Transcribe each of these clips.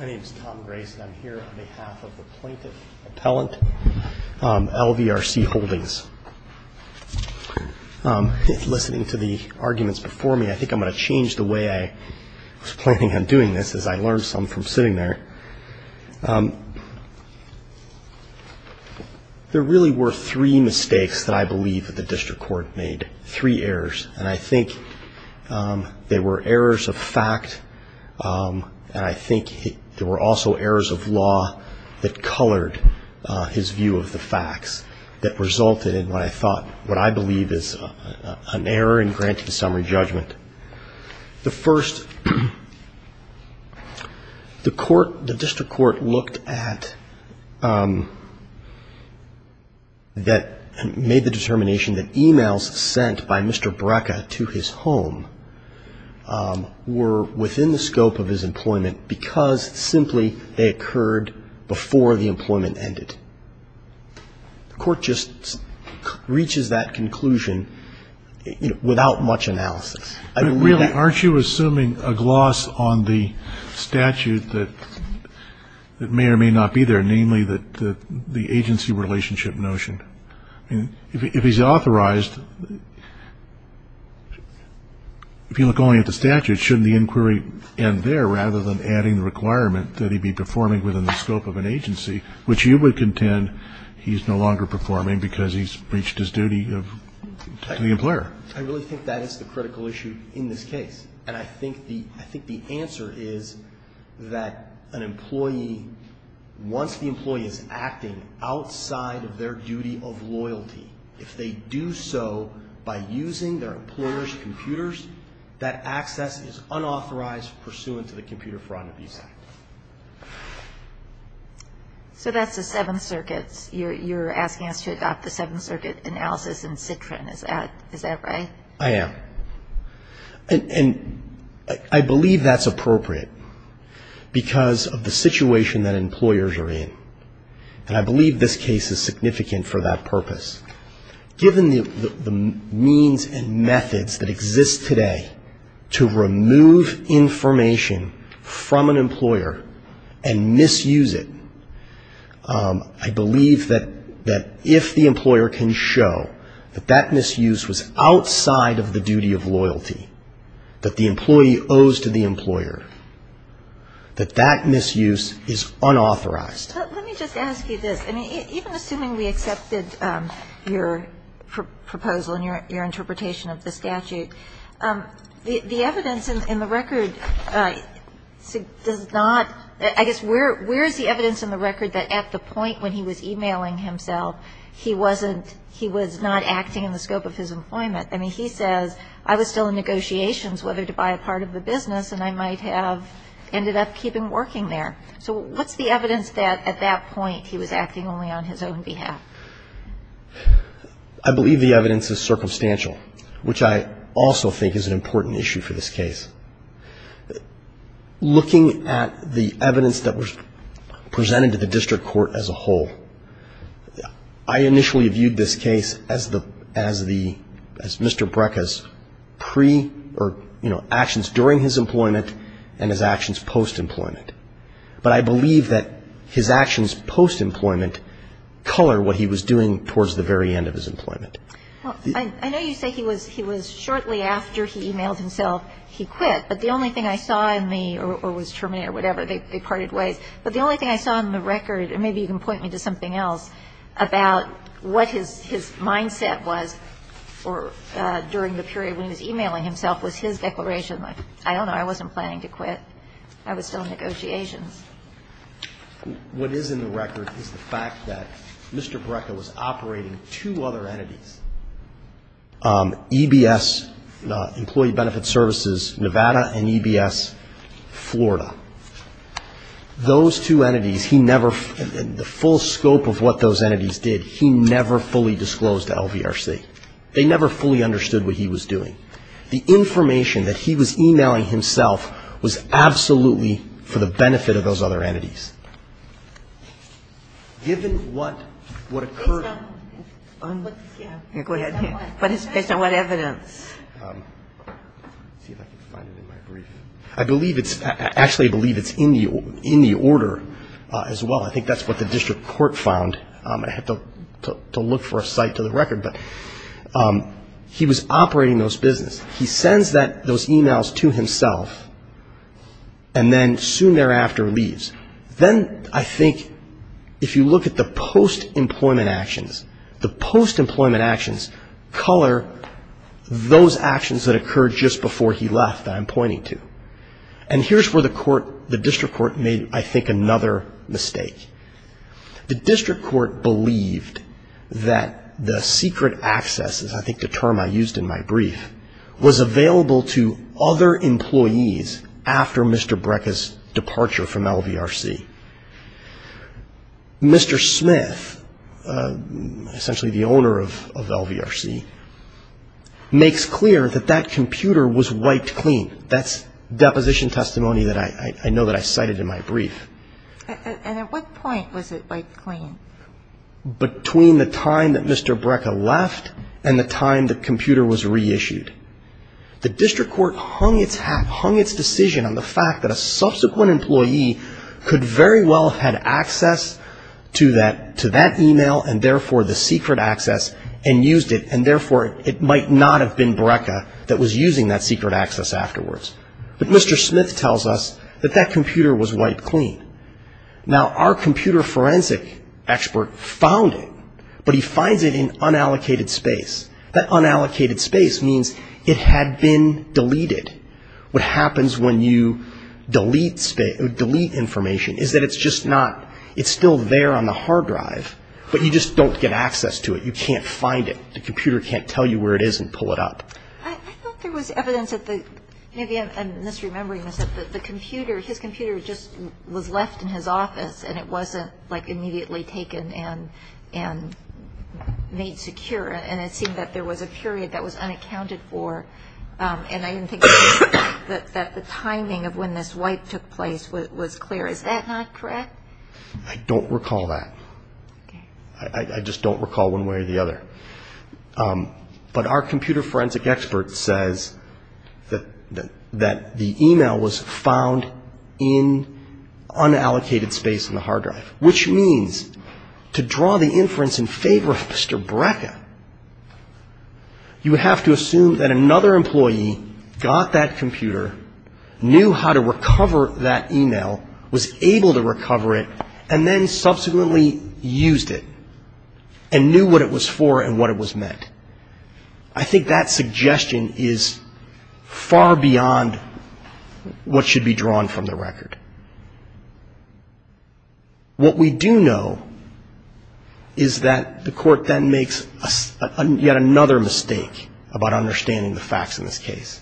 My name is Tom Grace and I'm here on behalf of the Plaintiff Appellant, LVRC Holdings. Listening to the arguments before me, I think I'm going to change the way I was planning on doing this as I learned some from sitting there. There really were three mistakes that I believe that the district court made, three errors. And I think they were errors of fact, and I think there were also errors of law that colored his view of the facts that resulted in what I thought, what I believe is an error in granting summary judgment. The first, the court, the district court looked at, that made the determination that emails sent by Mr. Brekka to his home were within the scope of his employment because simply they occurred before the employment ended. The court just reaches that conclusion without much analysis. I mean, really. Aren't you assuming a gloss on the statute that may or may not be there, namely the agency relationship notion? If he's authorized, if you look only at the statute, shouldn't the inquiry end there rather than adding the requirement that he be performing within the scope of an agency, which you would contend he's no longer performing because he's breached his duty to the employer? I really think that is the critical issue in this case. And I think the answer is that an employee, once the employee is acting outside of their duty of loyalty, if they do so by using their employer's computers, that access is unauthorized pursuant to the Computer Fraud and Abuse Act. So that's the Seventh Circuit. You're asking us to adopt the Seventh Circuit analysis in Citrin. Is that right? I am. And I believe that's appropriate because of the situation that employers are in. And I believe this case is significant for that purpose. Given the means and methods that exist today to remove information from an employer and misuse it, I believe that if the employer can show that that misuse was outside of the duty of loyalty, that the employee owes to the employer, that that misuse is unauthorized. Let me just ask you this. I mean, even assuming we accepted your proposal and your interpretation of the statute, the evidence in the record does not, I guess, where is the evidence in the record that at the point when he was e-mailing himself he wasn't, he was not acting in the scope of his employment? I mean, he says, I was still in negotiations whether to buy a part of the business and I might have ended up keeping working there. So what's the evidence that at that point he was acting only on his own behalf? I believe the evidence is circumstantial, which I also think is an important issue for this case. Looking at the evidence that was presented to the district court as a whole, I initially viewed this case as the, as the, as Mr. Brekka's pre or, you know, actions during his employment and his actions post-employment. But I believe that his actions post-employment color what he was doing towards the very end of his employment. Well, I know you say he was shortly after he e-mailed himself he quit. But the only thing I saw in the, or was terminated or whatever, they parted ways. But the only thing I saw in the record, and maybe you can point me to something else, about what his, his mindset was or during the period when he was e-mailing himself was his declaration, I don't know, I wasn't planning to quit, I was still in negotiations. What is in the record is the fact that Mr. Brekka was operating two other entities, EBS Employee Benefit Services Nevada and EBS Florida. Those two entities, he never, the full scope of what those entities did, he never fully disclosed to LVRC. They never fully understood what he was doing. The information that he was e-mailing himself was absolutely for the benefit of those other entities. Given what, what occurred. Go ahead. Based on what evidence? Let's see if I can find it in my brief. I believe it's, actually I believe it's in the order as well. I think that's what the district court found. I have to look for a cite to the record, but he was operating those businesses. He sends that, those e-mails to himself and then soon thereafter leaves. Then I think if you look at the post-employment actions, the post-employment actions color those actions that occurred just before he left that I'm pointing to. And here's where the court, the district court made I think another mistake. The district court believed that the secret access, I think the term I used in my brief, was available to other employees after Mr. Brekka's departure from LVRC. Mr. Smith, essentially the owner of LVRC, makes clear that that computer was wiped clean. That's deposition testimony that I know that I cited in my brief. And at what point was it wiped clean? Between the time that Mr. Brekka left and the time the computer was reissued. The district court hung its hat, hung its decision on the fact that a subsequent employee could very well have had access to that e-mail and therefore the secret access and used it and therefore it might not have been Brekka that was using that secret access afterwards. But Mr. Smith tells us that that computer was wiped clean. Now our computer forensic expert found it, but he finds it in unallocated space. That unallocated space means it had been deleted. What happens when you delete information is that it's just not, it's still there on the hard drive, but you just don't get access to it. You can't find it. The computer can't tell you where it is and pull it up. I thought there was evidence that the, maybe I'm misremembering this, that the computer, his computer just was left in his office and it wasn't like immediately taken and made secure. And it seemed that there was a period that was unaccounted for and I didn't think that the timing of when this wipe took place was clear. Is that not correct? I don't recall that. Okay. I just don't recall one way or the other. But our computer forensic expert says that the e-mail was found in unallocated space on the hard drive, which means to draw the inference in favor of Mr. Brekka, you have to assume that another employee got that computer, knew how to recover that e-mail, was able to recover it, and then subsequently used it and knew what it was for and what it was meant. I think that suggestion is far beyond what should be drawn from the record. What we do know is that the court then makes yet another mistake about understanding the facts in this case.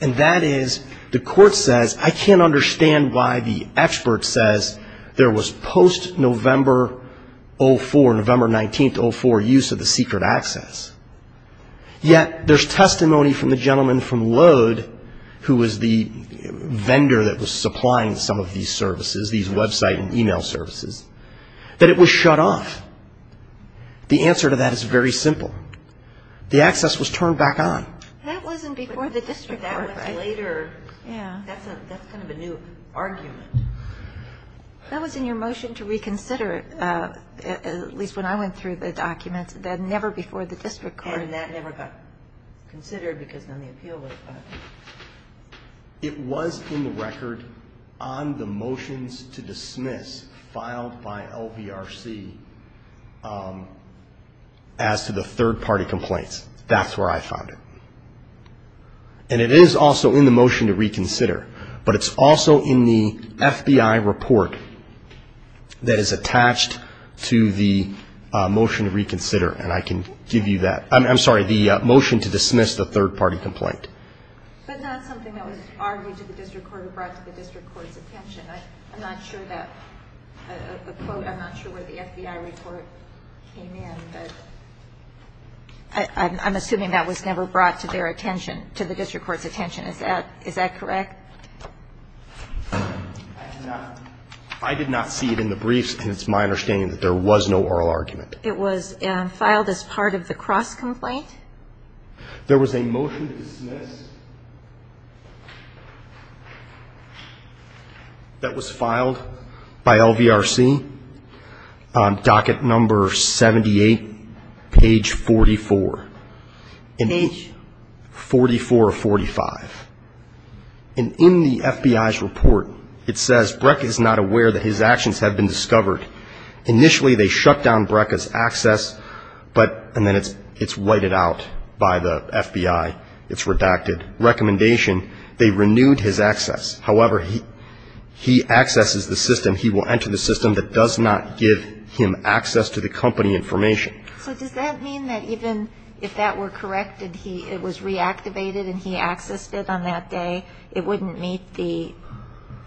And that is the court says I can't understand why the expert says there was post-November 04, use of the secret access. Yet there's testimony from the gentleman from Lode, who was the vendor that was supplying some of these services, these website and e-mail services, that it was shut off. The answer to that is very simple. The access was turned back on. That wasn't before the district court, right? That was later. Yeah. That's kind of a new argument. That was in your motion to reconsider, at least when I went through the document, that never before the district court. And that never got considered because then the appeal was filed. It was in the record on the motions to dismiss filed by LVRC as to the third-party complaints. That's where I found it. And it is also in the motion to reconsider. But it's also in the FBI report that is attached to the motion to reconsider. And I can give you that. I'm sorry, the motion to dismiss the third-party complaint. But not something that was argued to the district court or brought to the district court's attention. I'm not sure that a quote, I'm not sure where the FBI report came in. I'm assuming that was never brought to their attention, to the district court's attention, is that correct? I did not see it in the briefs, and it's my understanding that there was no oral argument. It was filed as part of the cross-complaint? There was a motion to dismiss that was filed by LVRC on docket number 78, page 44. Page? 4445. And in the FBI's report, it says, Breck is not aware that his actions have been discovered. Initially, they shut down Breck's access, but, and then it's whited out by the FBI. It's redacted. Recommendation, they renewed his access. However, he accesses the system, he will enter the system that does not give him access to the company information. So does that mean that even if that were corrected, it was reactivated and he accessed it on that day, it wouldn't meet the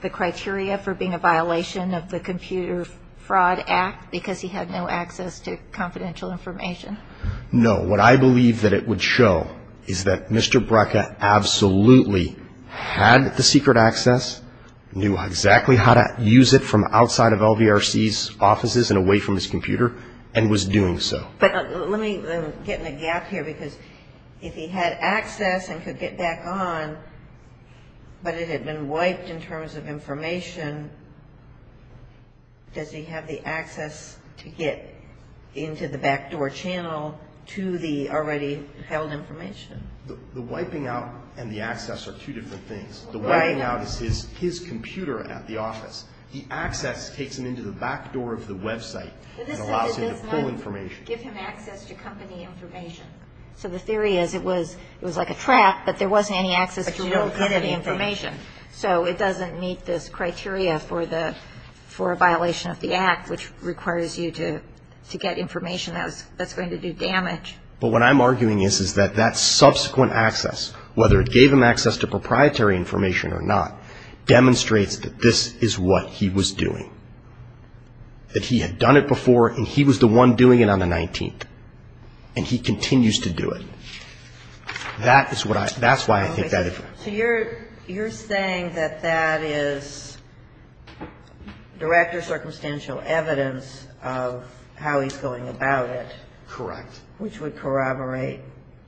criteria for being a violation of the Computer Fraud Act, because he had no access to confidential information? No. What I believe that it would show is that Mr. Breck absolutely had the secret access, knew exactly how to use it from outside of LVRC's offices and away from his computer, and was doing so. But let me get in a gap here, because if he had access and could get back on, but it had been wiped in terms of information, does he have the access to get into the backdoor channel to the already held information? The wiping out and the access are two different things. The wiping out is his computer at the office. The access takes him into the backdoor of the website and allows him to pull information. But this doesn't give him access to company information. So the theory is it was like a trap, but there wasn't any access to real company information. But you don't get any. So it doesn't meet this criteria for a violation of the Act, which requires you to get information that's going to do damage. But what I'm arguing is that that subsequent access, whether it gave him access to proprietary information or not, demonstrates that this is what he was doing. That he had done it before, and he was the one doing it on the 19th. And he continues to do it. That is what I, that's why I think that. So you're saying that that is direct or circumstantial evidence of how he's going about it. Correct. Which would corroborate.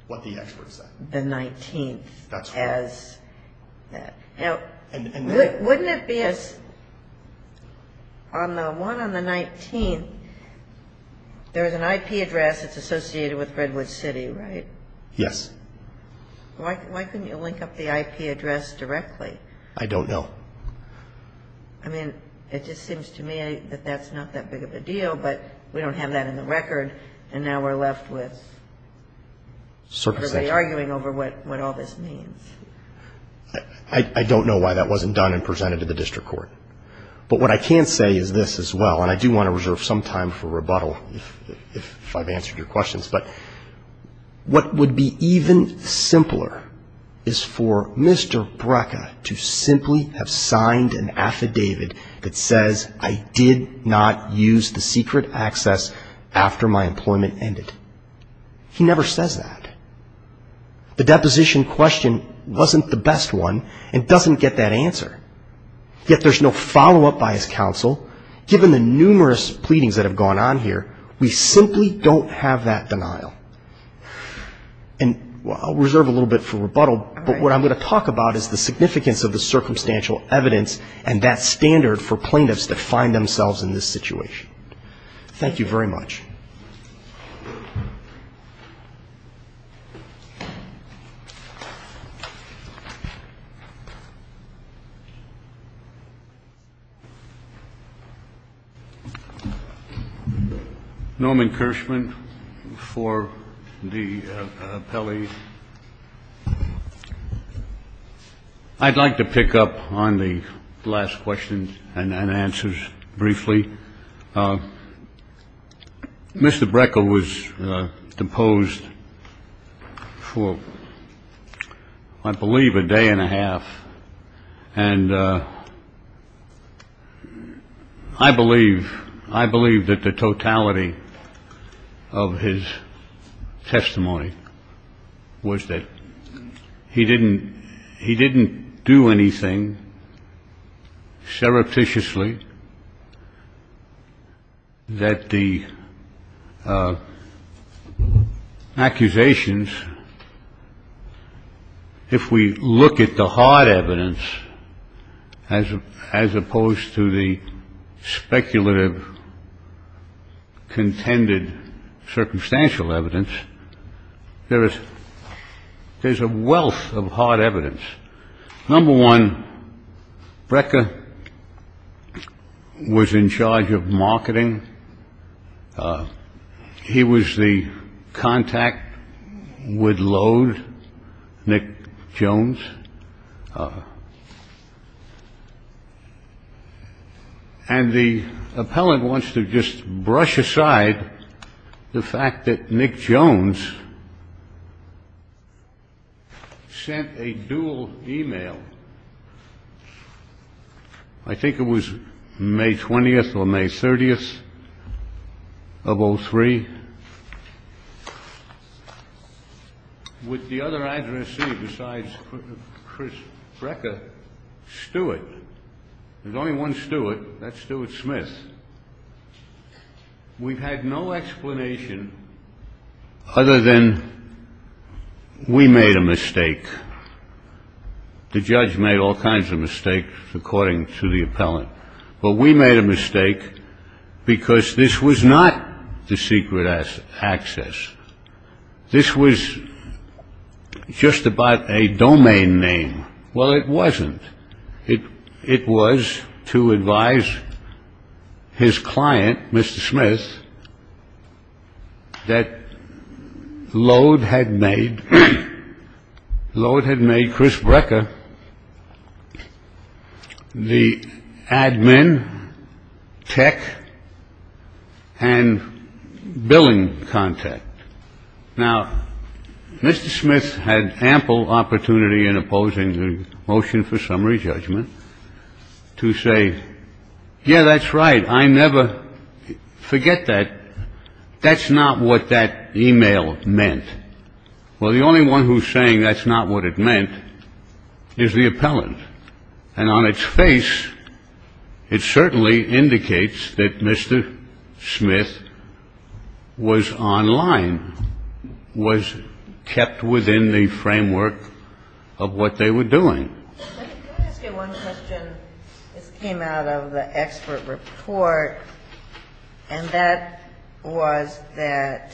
What the expert said. The 19th. That's right. Now, wouldn't it be as, on the one on the 19th, there's an IP address that's associated with Redwood City, right? Yes. Why couldn't you link up the IP address directly? I don't know. I mean, it just seems to me that that's not that big of a deal, but we don't have that in the record. And now we're left with. Circumstantial. Everybody arguing over what all this means. I don't know why that wasn't done and presented to the district court. But what I can say is this as well, and I do want to reserve some time for rebuttal if I've answered your questions. But what would be even simpler is for Mr. Brekka to simply have signed an affidavit that says, I did not use the secret access after my employment ended. He never says that. The deposition question wasn't the best one and doesn't get that answer. Yet there's no follow-up by his counsel. Given the numerous pleadings that have gone on here, we simply don't have that denial. And I'll reserve a little bit for rebuttal, but what I'm going to talk about is the significance of the circumstantial evidence and that standard for plaintiffs to find themselves in this situation. Thank you very much. Thank you very much. Thank you. Norman Kirschman for the appellee. I'd like to pick up on the last questions and answers briefly. Mr. Brekka was deposed for, I believe, a day and a half. And I believe I believe that the totality of his testimony was that he didn't he didn't do anything surreptitiously. That the accusations, if we look at the hard evidence, as opposed to the speculative contended circumstantial evidence, there is there's a wealth of hard evidence. Number one, Brekka was in charge of marketing. He was the contact with Lode, Nick Jones. And the appellant wants to just brush aside the fact that Nick Jones sent a dual e-mail. I think it was May 20th or May 30th of 03. With the other addressee besides Chris Brekka, Stewart. There's only one Stewart. That's Stewart Smith. We've had no explanation other than we made a mistake. The judge made all kinds of mistakes according to the appellant. But we made a mistake because this was not the secret access. This was just about a domain name. Well, it wasn't. It it was to advise his client, Mr. Smith. That Lode had made Lode had made Chris Brekka the admin tech and billing contact. Now, Mr. Smith had ample opportunity in opposing the motion for summary judgment to say, yeah, that's right. I never forget that. That's not what that e-mail meant. Well, the only one who's saying that's not what it meant is the appellant. And on its face, it certainly indicates that Mr. Smith was online, was kept within the framework of what they were doing. Can I ask you one question? This came out of the expert report, and that was that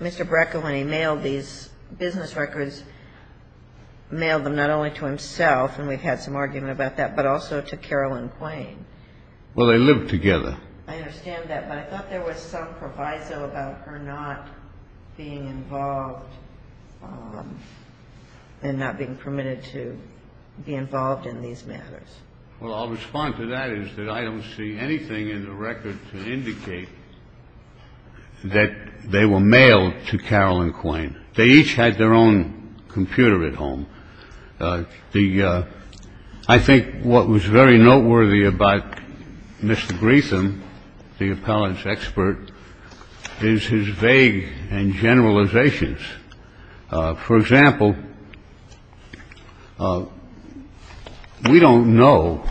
Mr. Brekka, when he mailed these business records, mailed them not only to himself, and we've had some argument about that, but also to Carol and Quayne. Well, they lived together. I understand that, but I thought there was some proviso about her not being involved and not being permitted to be involved in these matters. Well, I'll respond to that is that I don't see anything in the record to indicate that they were mailed to Carol and Quayne. They each had their own computer at home. I think what was very noteworthy about Mr. Griefen, the appellant's expert, is his vague and generalizations. For example, we don't know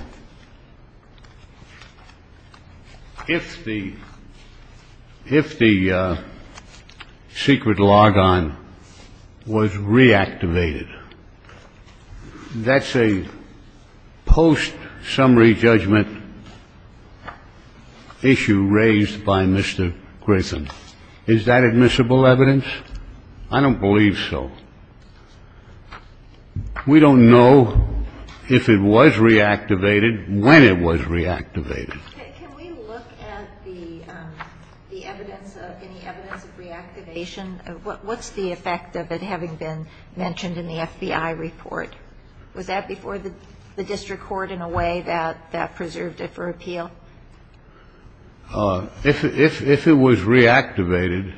if the secret logon was reactivated. That's a post-summary judgment issue raised by Mr. Griefen. Is that admissible evidence? I don't believe so. We don't know if it was reactivated, when it was reactivated. Can we look at the evidence of any evidence of reactivation? What's the effect of it having been mentioned in the FBI report? Was that before the district court in a way that preserved it for appeal? If it was reactivated,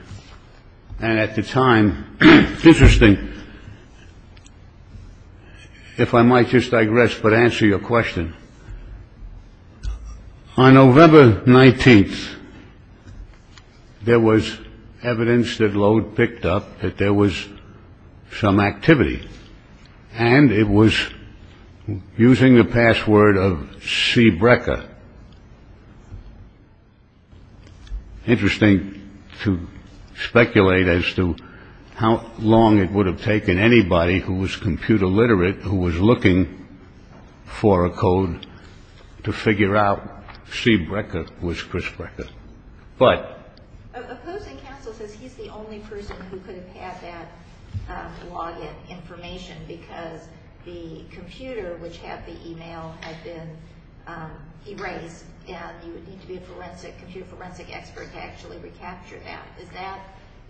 and at the time, interesting, if I might just digress, but answer your question. On November 19th, there was evidence that Lode picked up that there was some activity, and it was using the password of Cbreka. Interesting to speculate as to how long it would have taken anybody who was computer literate, who was looking for a code, to figure out Cbreka was Chris Breka. Opposing counsel says he's the only person who could have had that login information, because the computer, which had the email, had been erased, and you would need to be a forensic expert to actually recapture that.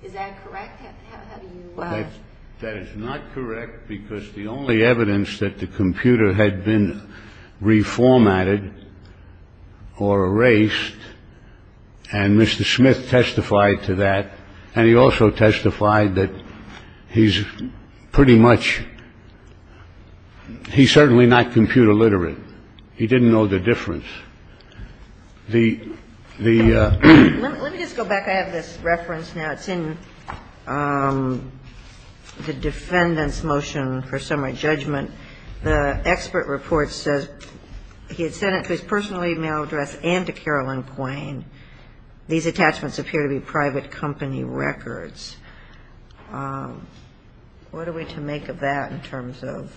Is that correct? That is not correct, because the only evidence that the computer had been reformatted or erased, and Mr. Smith testified to that, and he also testified that he's pretty much, he's certainly not computer literate. He didn't know the difference. Let me just go back. I have this reference now. It's in the defendant's motion for summary judgment. The expert report says he had sent it to his personal email address and to Carolyn Quain. These attachments appear to be private company records. What are we to make of that in terms of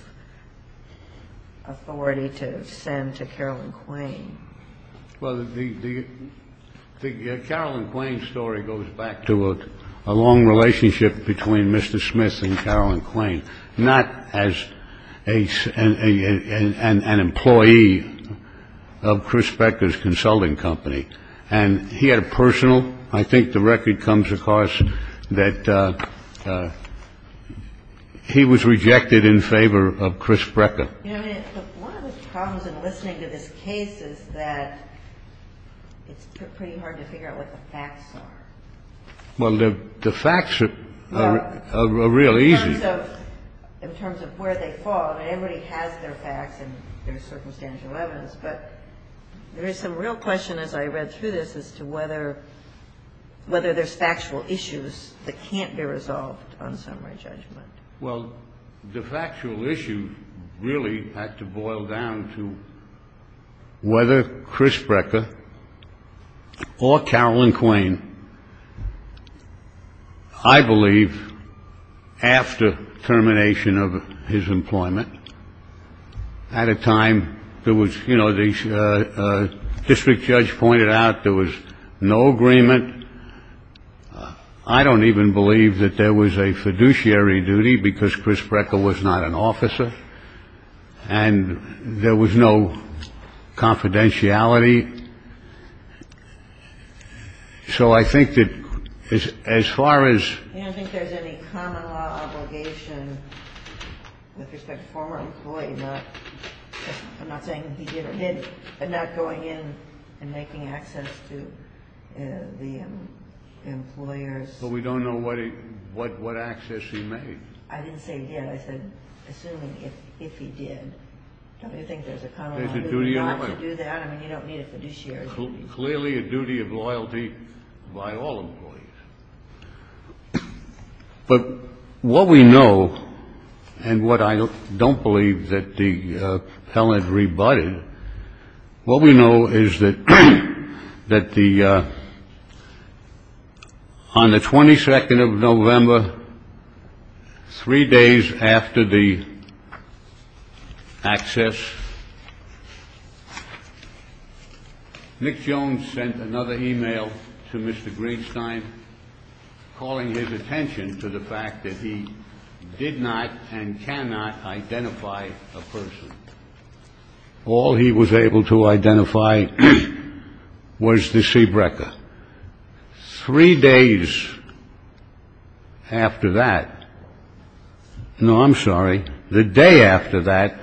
authority to send to Carolyn Quain? Well, the Carolyn Quain story goes back to a long relationship between Mr. Smith and Carolyn Quain, not as an employee of Chris Breka's consulting company. And he had a personal. I think the record comes across that he was rejected in favor of Chris Breka. One of the problems in listening to this case is that it's pretty hard to figure out what the facts are. Well, the facts are real easy. In terms of where they fall, I mean, everybody has their facts and their circumstantial evidence, but there is some real question as I read through this as to whether there's factual issues that can't be resolved on summary judgment. Well, the factual issue really had to boil down to whether Chris Breka or Carolyn Quain, I believe after termination of his employment at a time there was, you know, the district judge pointed out there was no agreement. I don't even believe that there was a fiduciary duty because Chris Breka was not an officer and there was no confidentiality. So I think that as far as. I don't think there's any common law obligation with respect to a former employee. I'm not saying he did or didn't, but not going in and making access to the employers. But we don't know what he what what access he made. I didn't say he did. I said assuming if he did. I don't think there's a common duty to do that. I mean, you don't need a fiduciary duty. Clearly a duty of loyalty by all employees. But what we know and what I don't believe that the appellant rebutted, what we know is that that the on the 22nd of November, three days after the access. Nick Jones sent another email to Mr. Greenstein calling his attention to the fact that he did not and cannot identify a person. All he was able to identify was the C Breka. Three days after that. No, I'm sorry. The day after that.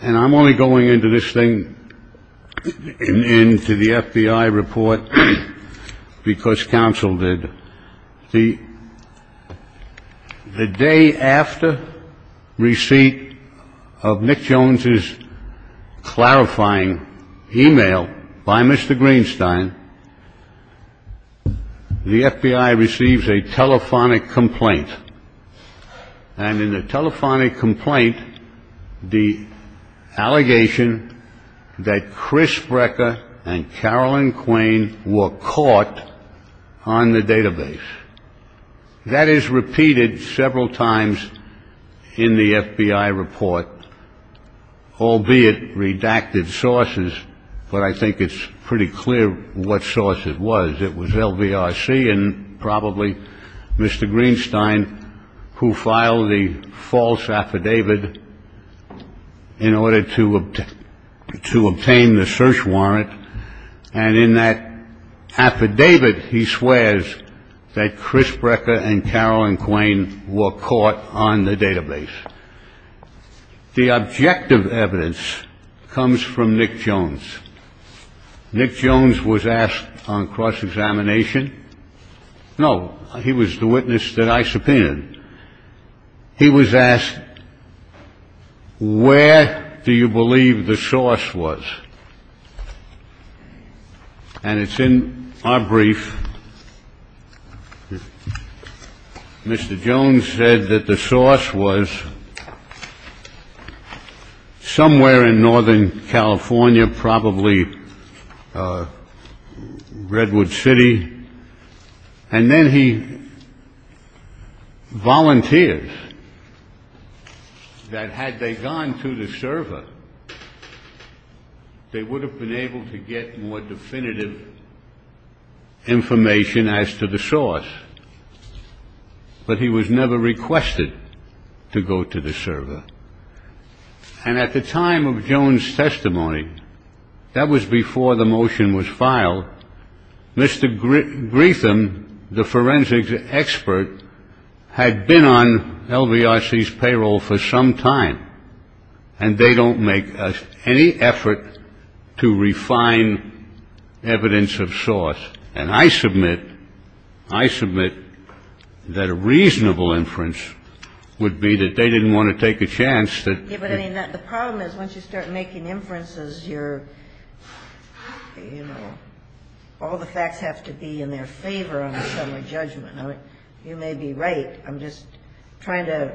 And I'm only going into this thing into the FBI report because counsel did. The day after receipt of Nick Jones's clarifying email by Mr. Greenstein. The FBI receives a telephonic complaint. And in the telephonic complaint, the allegation that Chris Breka and Carolyn Quain were caught on the database. That is repeated several times in the FBI report, albeit redacted sources. But I think it's pretty clear what source it was. It was LVRC and probably Mr. Greenstein, who filed the false affidavit in order to obtain the search warrant. And in that affidavit, he swears that Chris Breka and Carolyn Quain were caught on the database. The objective evidence comes from Nick Jones. Nick Jones was asked on cross-examination. No, he was the witness that I subpoenaed. He was asked, where do you believe the source was? And it's in our brief. Mr. Jones said that the source was somewhere in northern California, probably Redwood City. And then he volunteers that had they gone to the server, they would have been able to get more definitive information as to the source. But he was never requested to go to the server. And at the time of Jones' testimony, that was before the motion was filed. Mr. Greetham, the forensics expert, had been on LVRC's payroll for some time. And they don't make any effort to refine evidence of source. And I submit, I submit that a reasonable inference would be that they didn't want to take a chance. But the problem is, once you start making inferences, you're, you know, all the facts have to be in their favor on a summary judgment. You may be right. I'm just trying to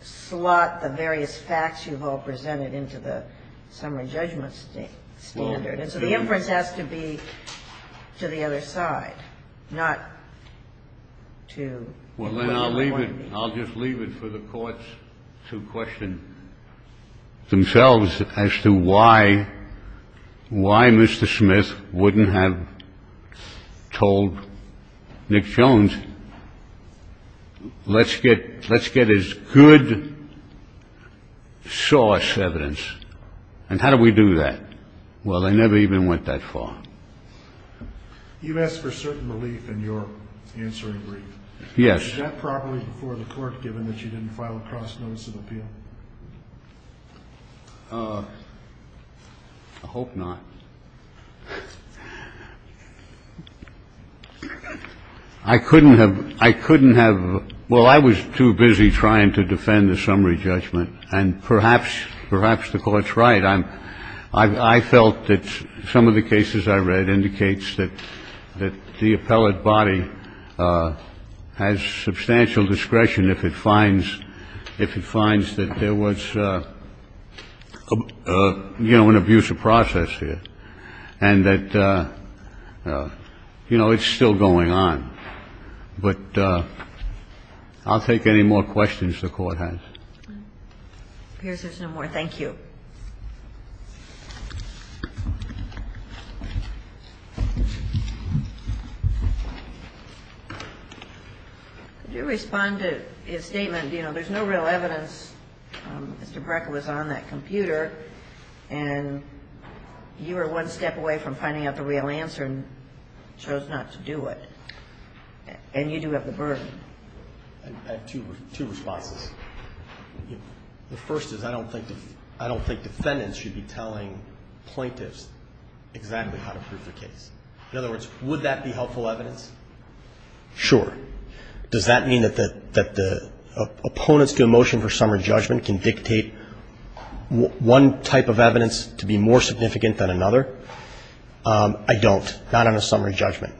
slot the various facts you've all presented into the summary judgment standard. And so the inference has to be to the other side, not to. Well, then I'll leave it. I'll just leave it for the courts to question themselves as to why, why Mr. Smith wouldn't have told Nick Jones, let's get, let's get as good source evidence. And how do we do that? Well, they never even went that far. You've asked for certain relief in your answer in brief. Yes. Is that properly before the court, given that you didn't file a cross-notice of appeal? I hope not. I couldn't have. I couldn't have. Well, I was too busy trying to defend the summary judgment. And perhaps, perhaps the Court's right. I felt that some of the cases I read indicates that the appellate body has substantial discretion if it finds, if it finds that there was, you know, an abusive process here and that, you know, it's still going on. But I'll take any more questions the Court has. It appears there's no more. Thank you. Could you respond to his statement, you know, there's no real evidence. Mr. Brekker was on that computer. And you were one step away from finding out the real answer and chose not to do it. And you do have the burden. I have two responses. The first is I don't think defendants should be telling plaintiffs exactly how to prove the case. In other words, would that be helpful evidence? Sure. Does that mean that the opponents to a motion for summary judgment can dictate one type of evidence to be more significant than another? I don't. Not on a summary judgment.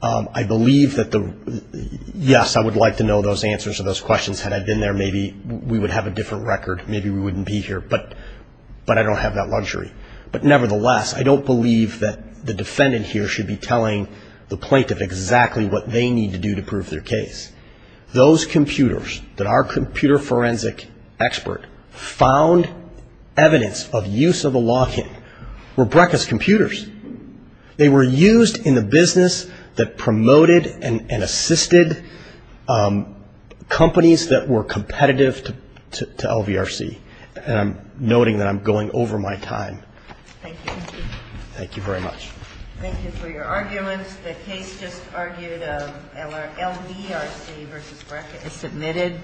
I believe that the, yes, I would like to know those answers to those questions had I been there. Maybe we would have a different record. Maybe we wouldn't be here. But I don't have that luxury. But nevertheless, I don't believe that the defendant here should be telling the plaintiff exactly what they need to do to prove their case. Those computers that our computer forensic expert found evidence of use of the login were Brekker's computers. They were used in the business that promoted and assisted companies that were competitive to LVRC. And I'm noting that I'm going over my time. Thank you. Thank you very much. Thank you for your arguments. The case just argued LVRC versus Brekker is submitted. Thank you.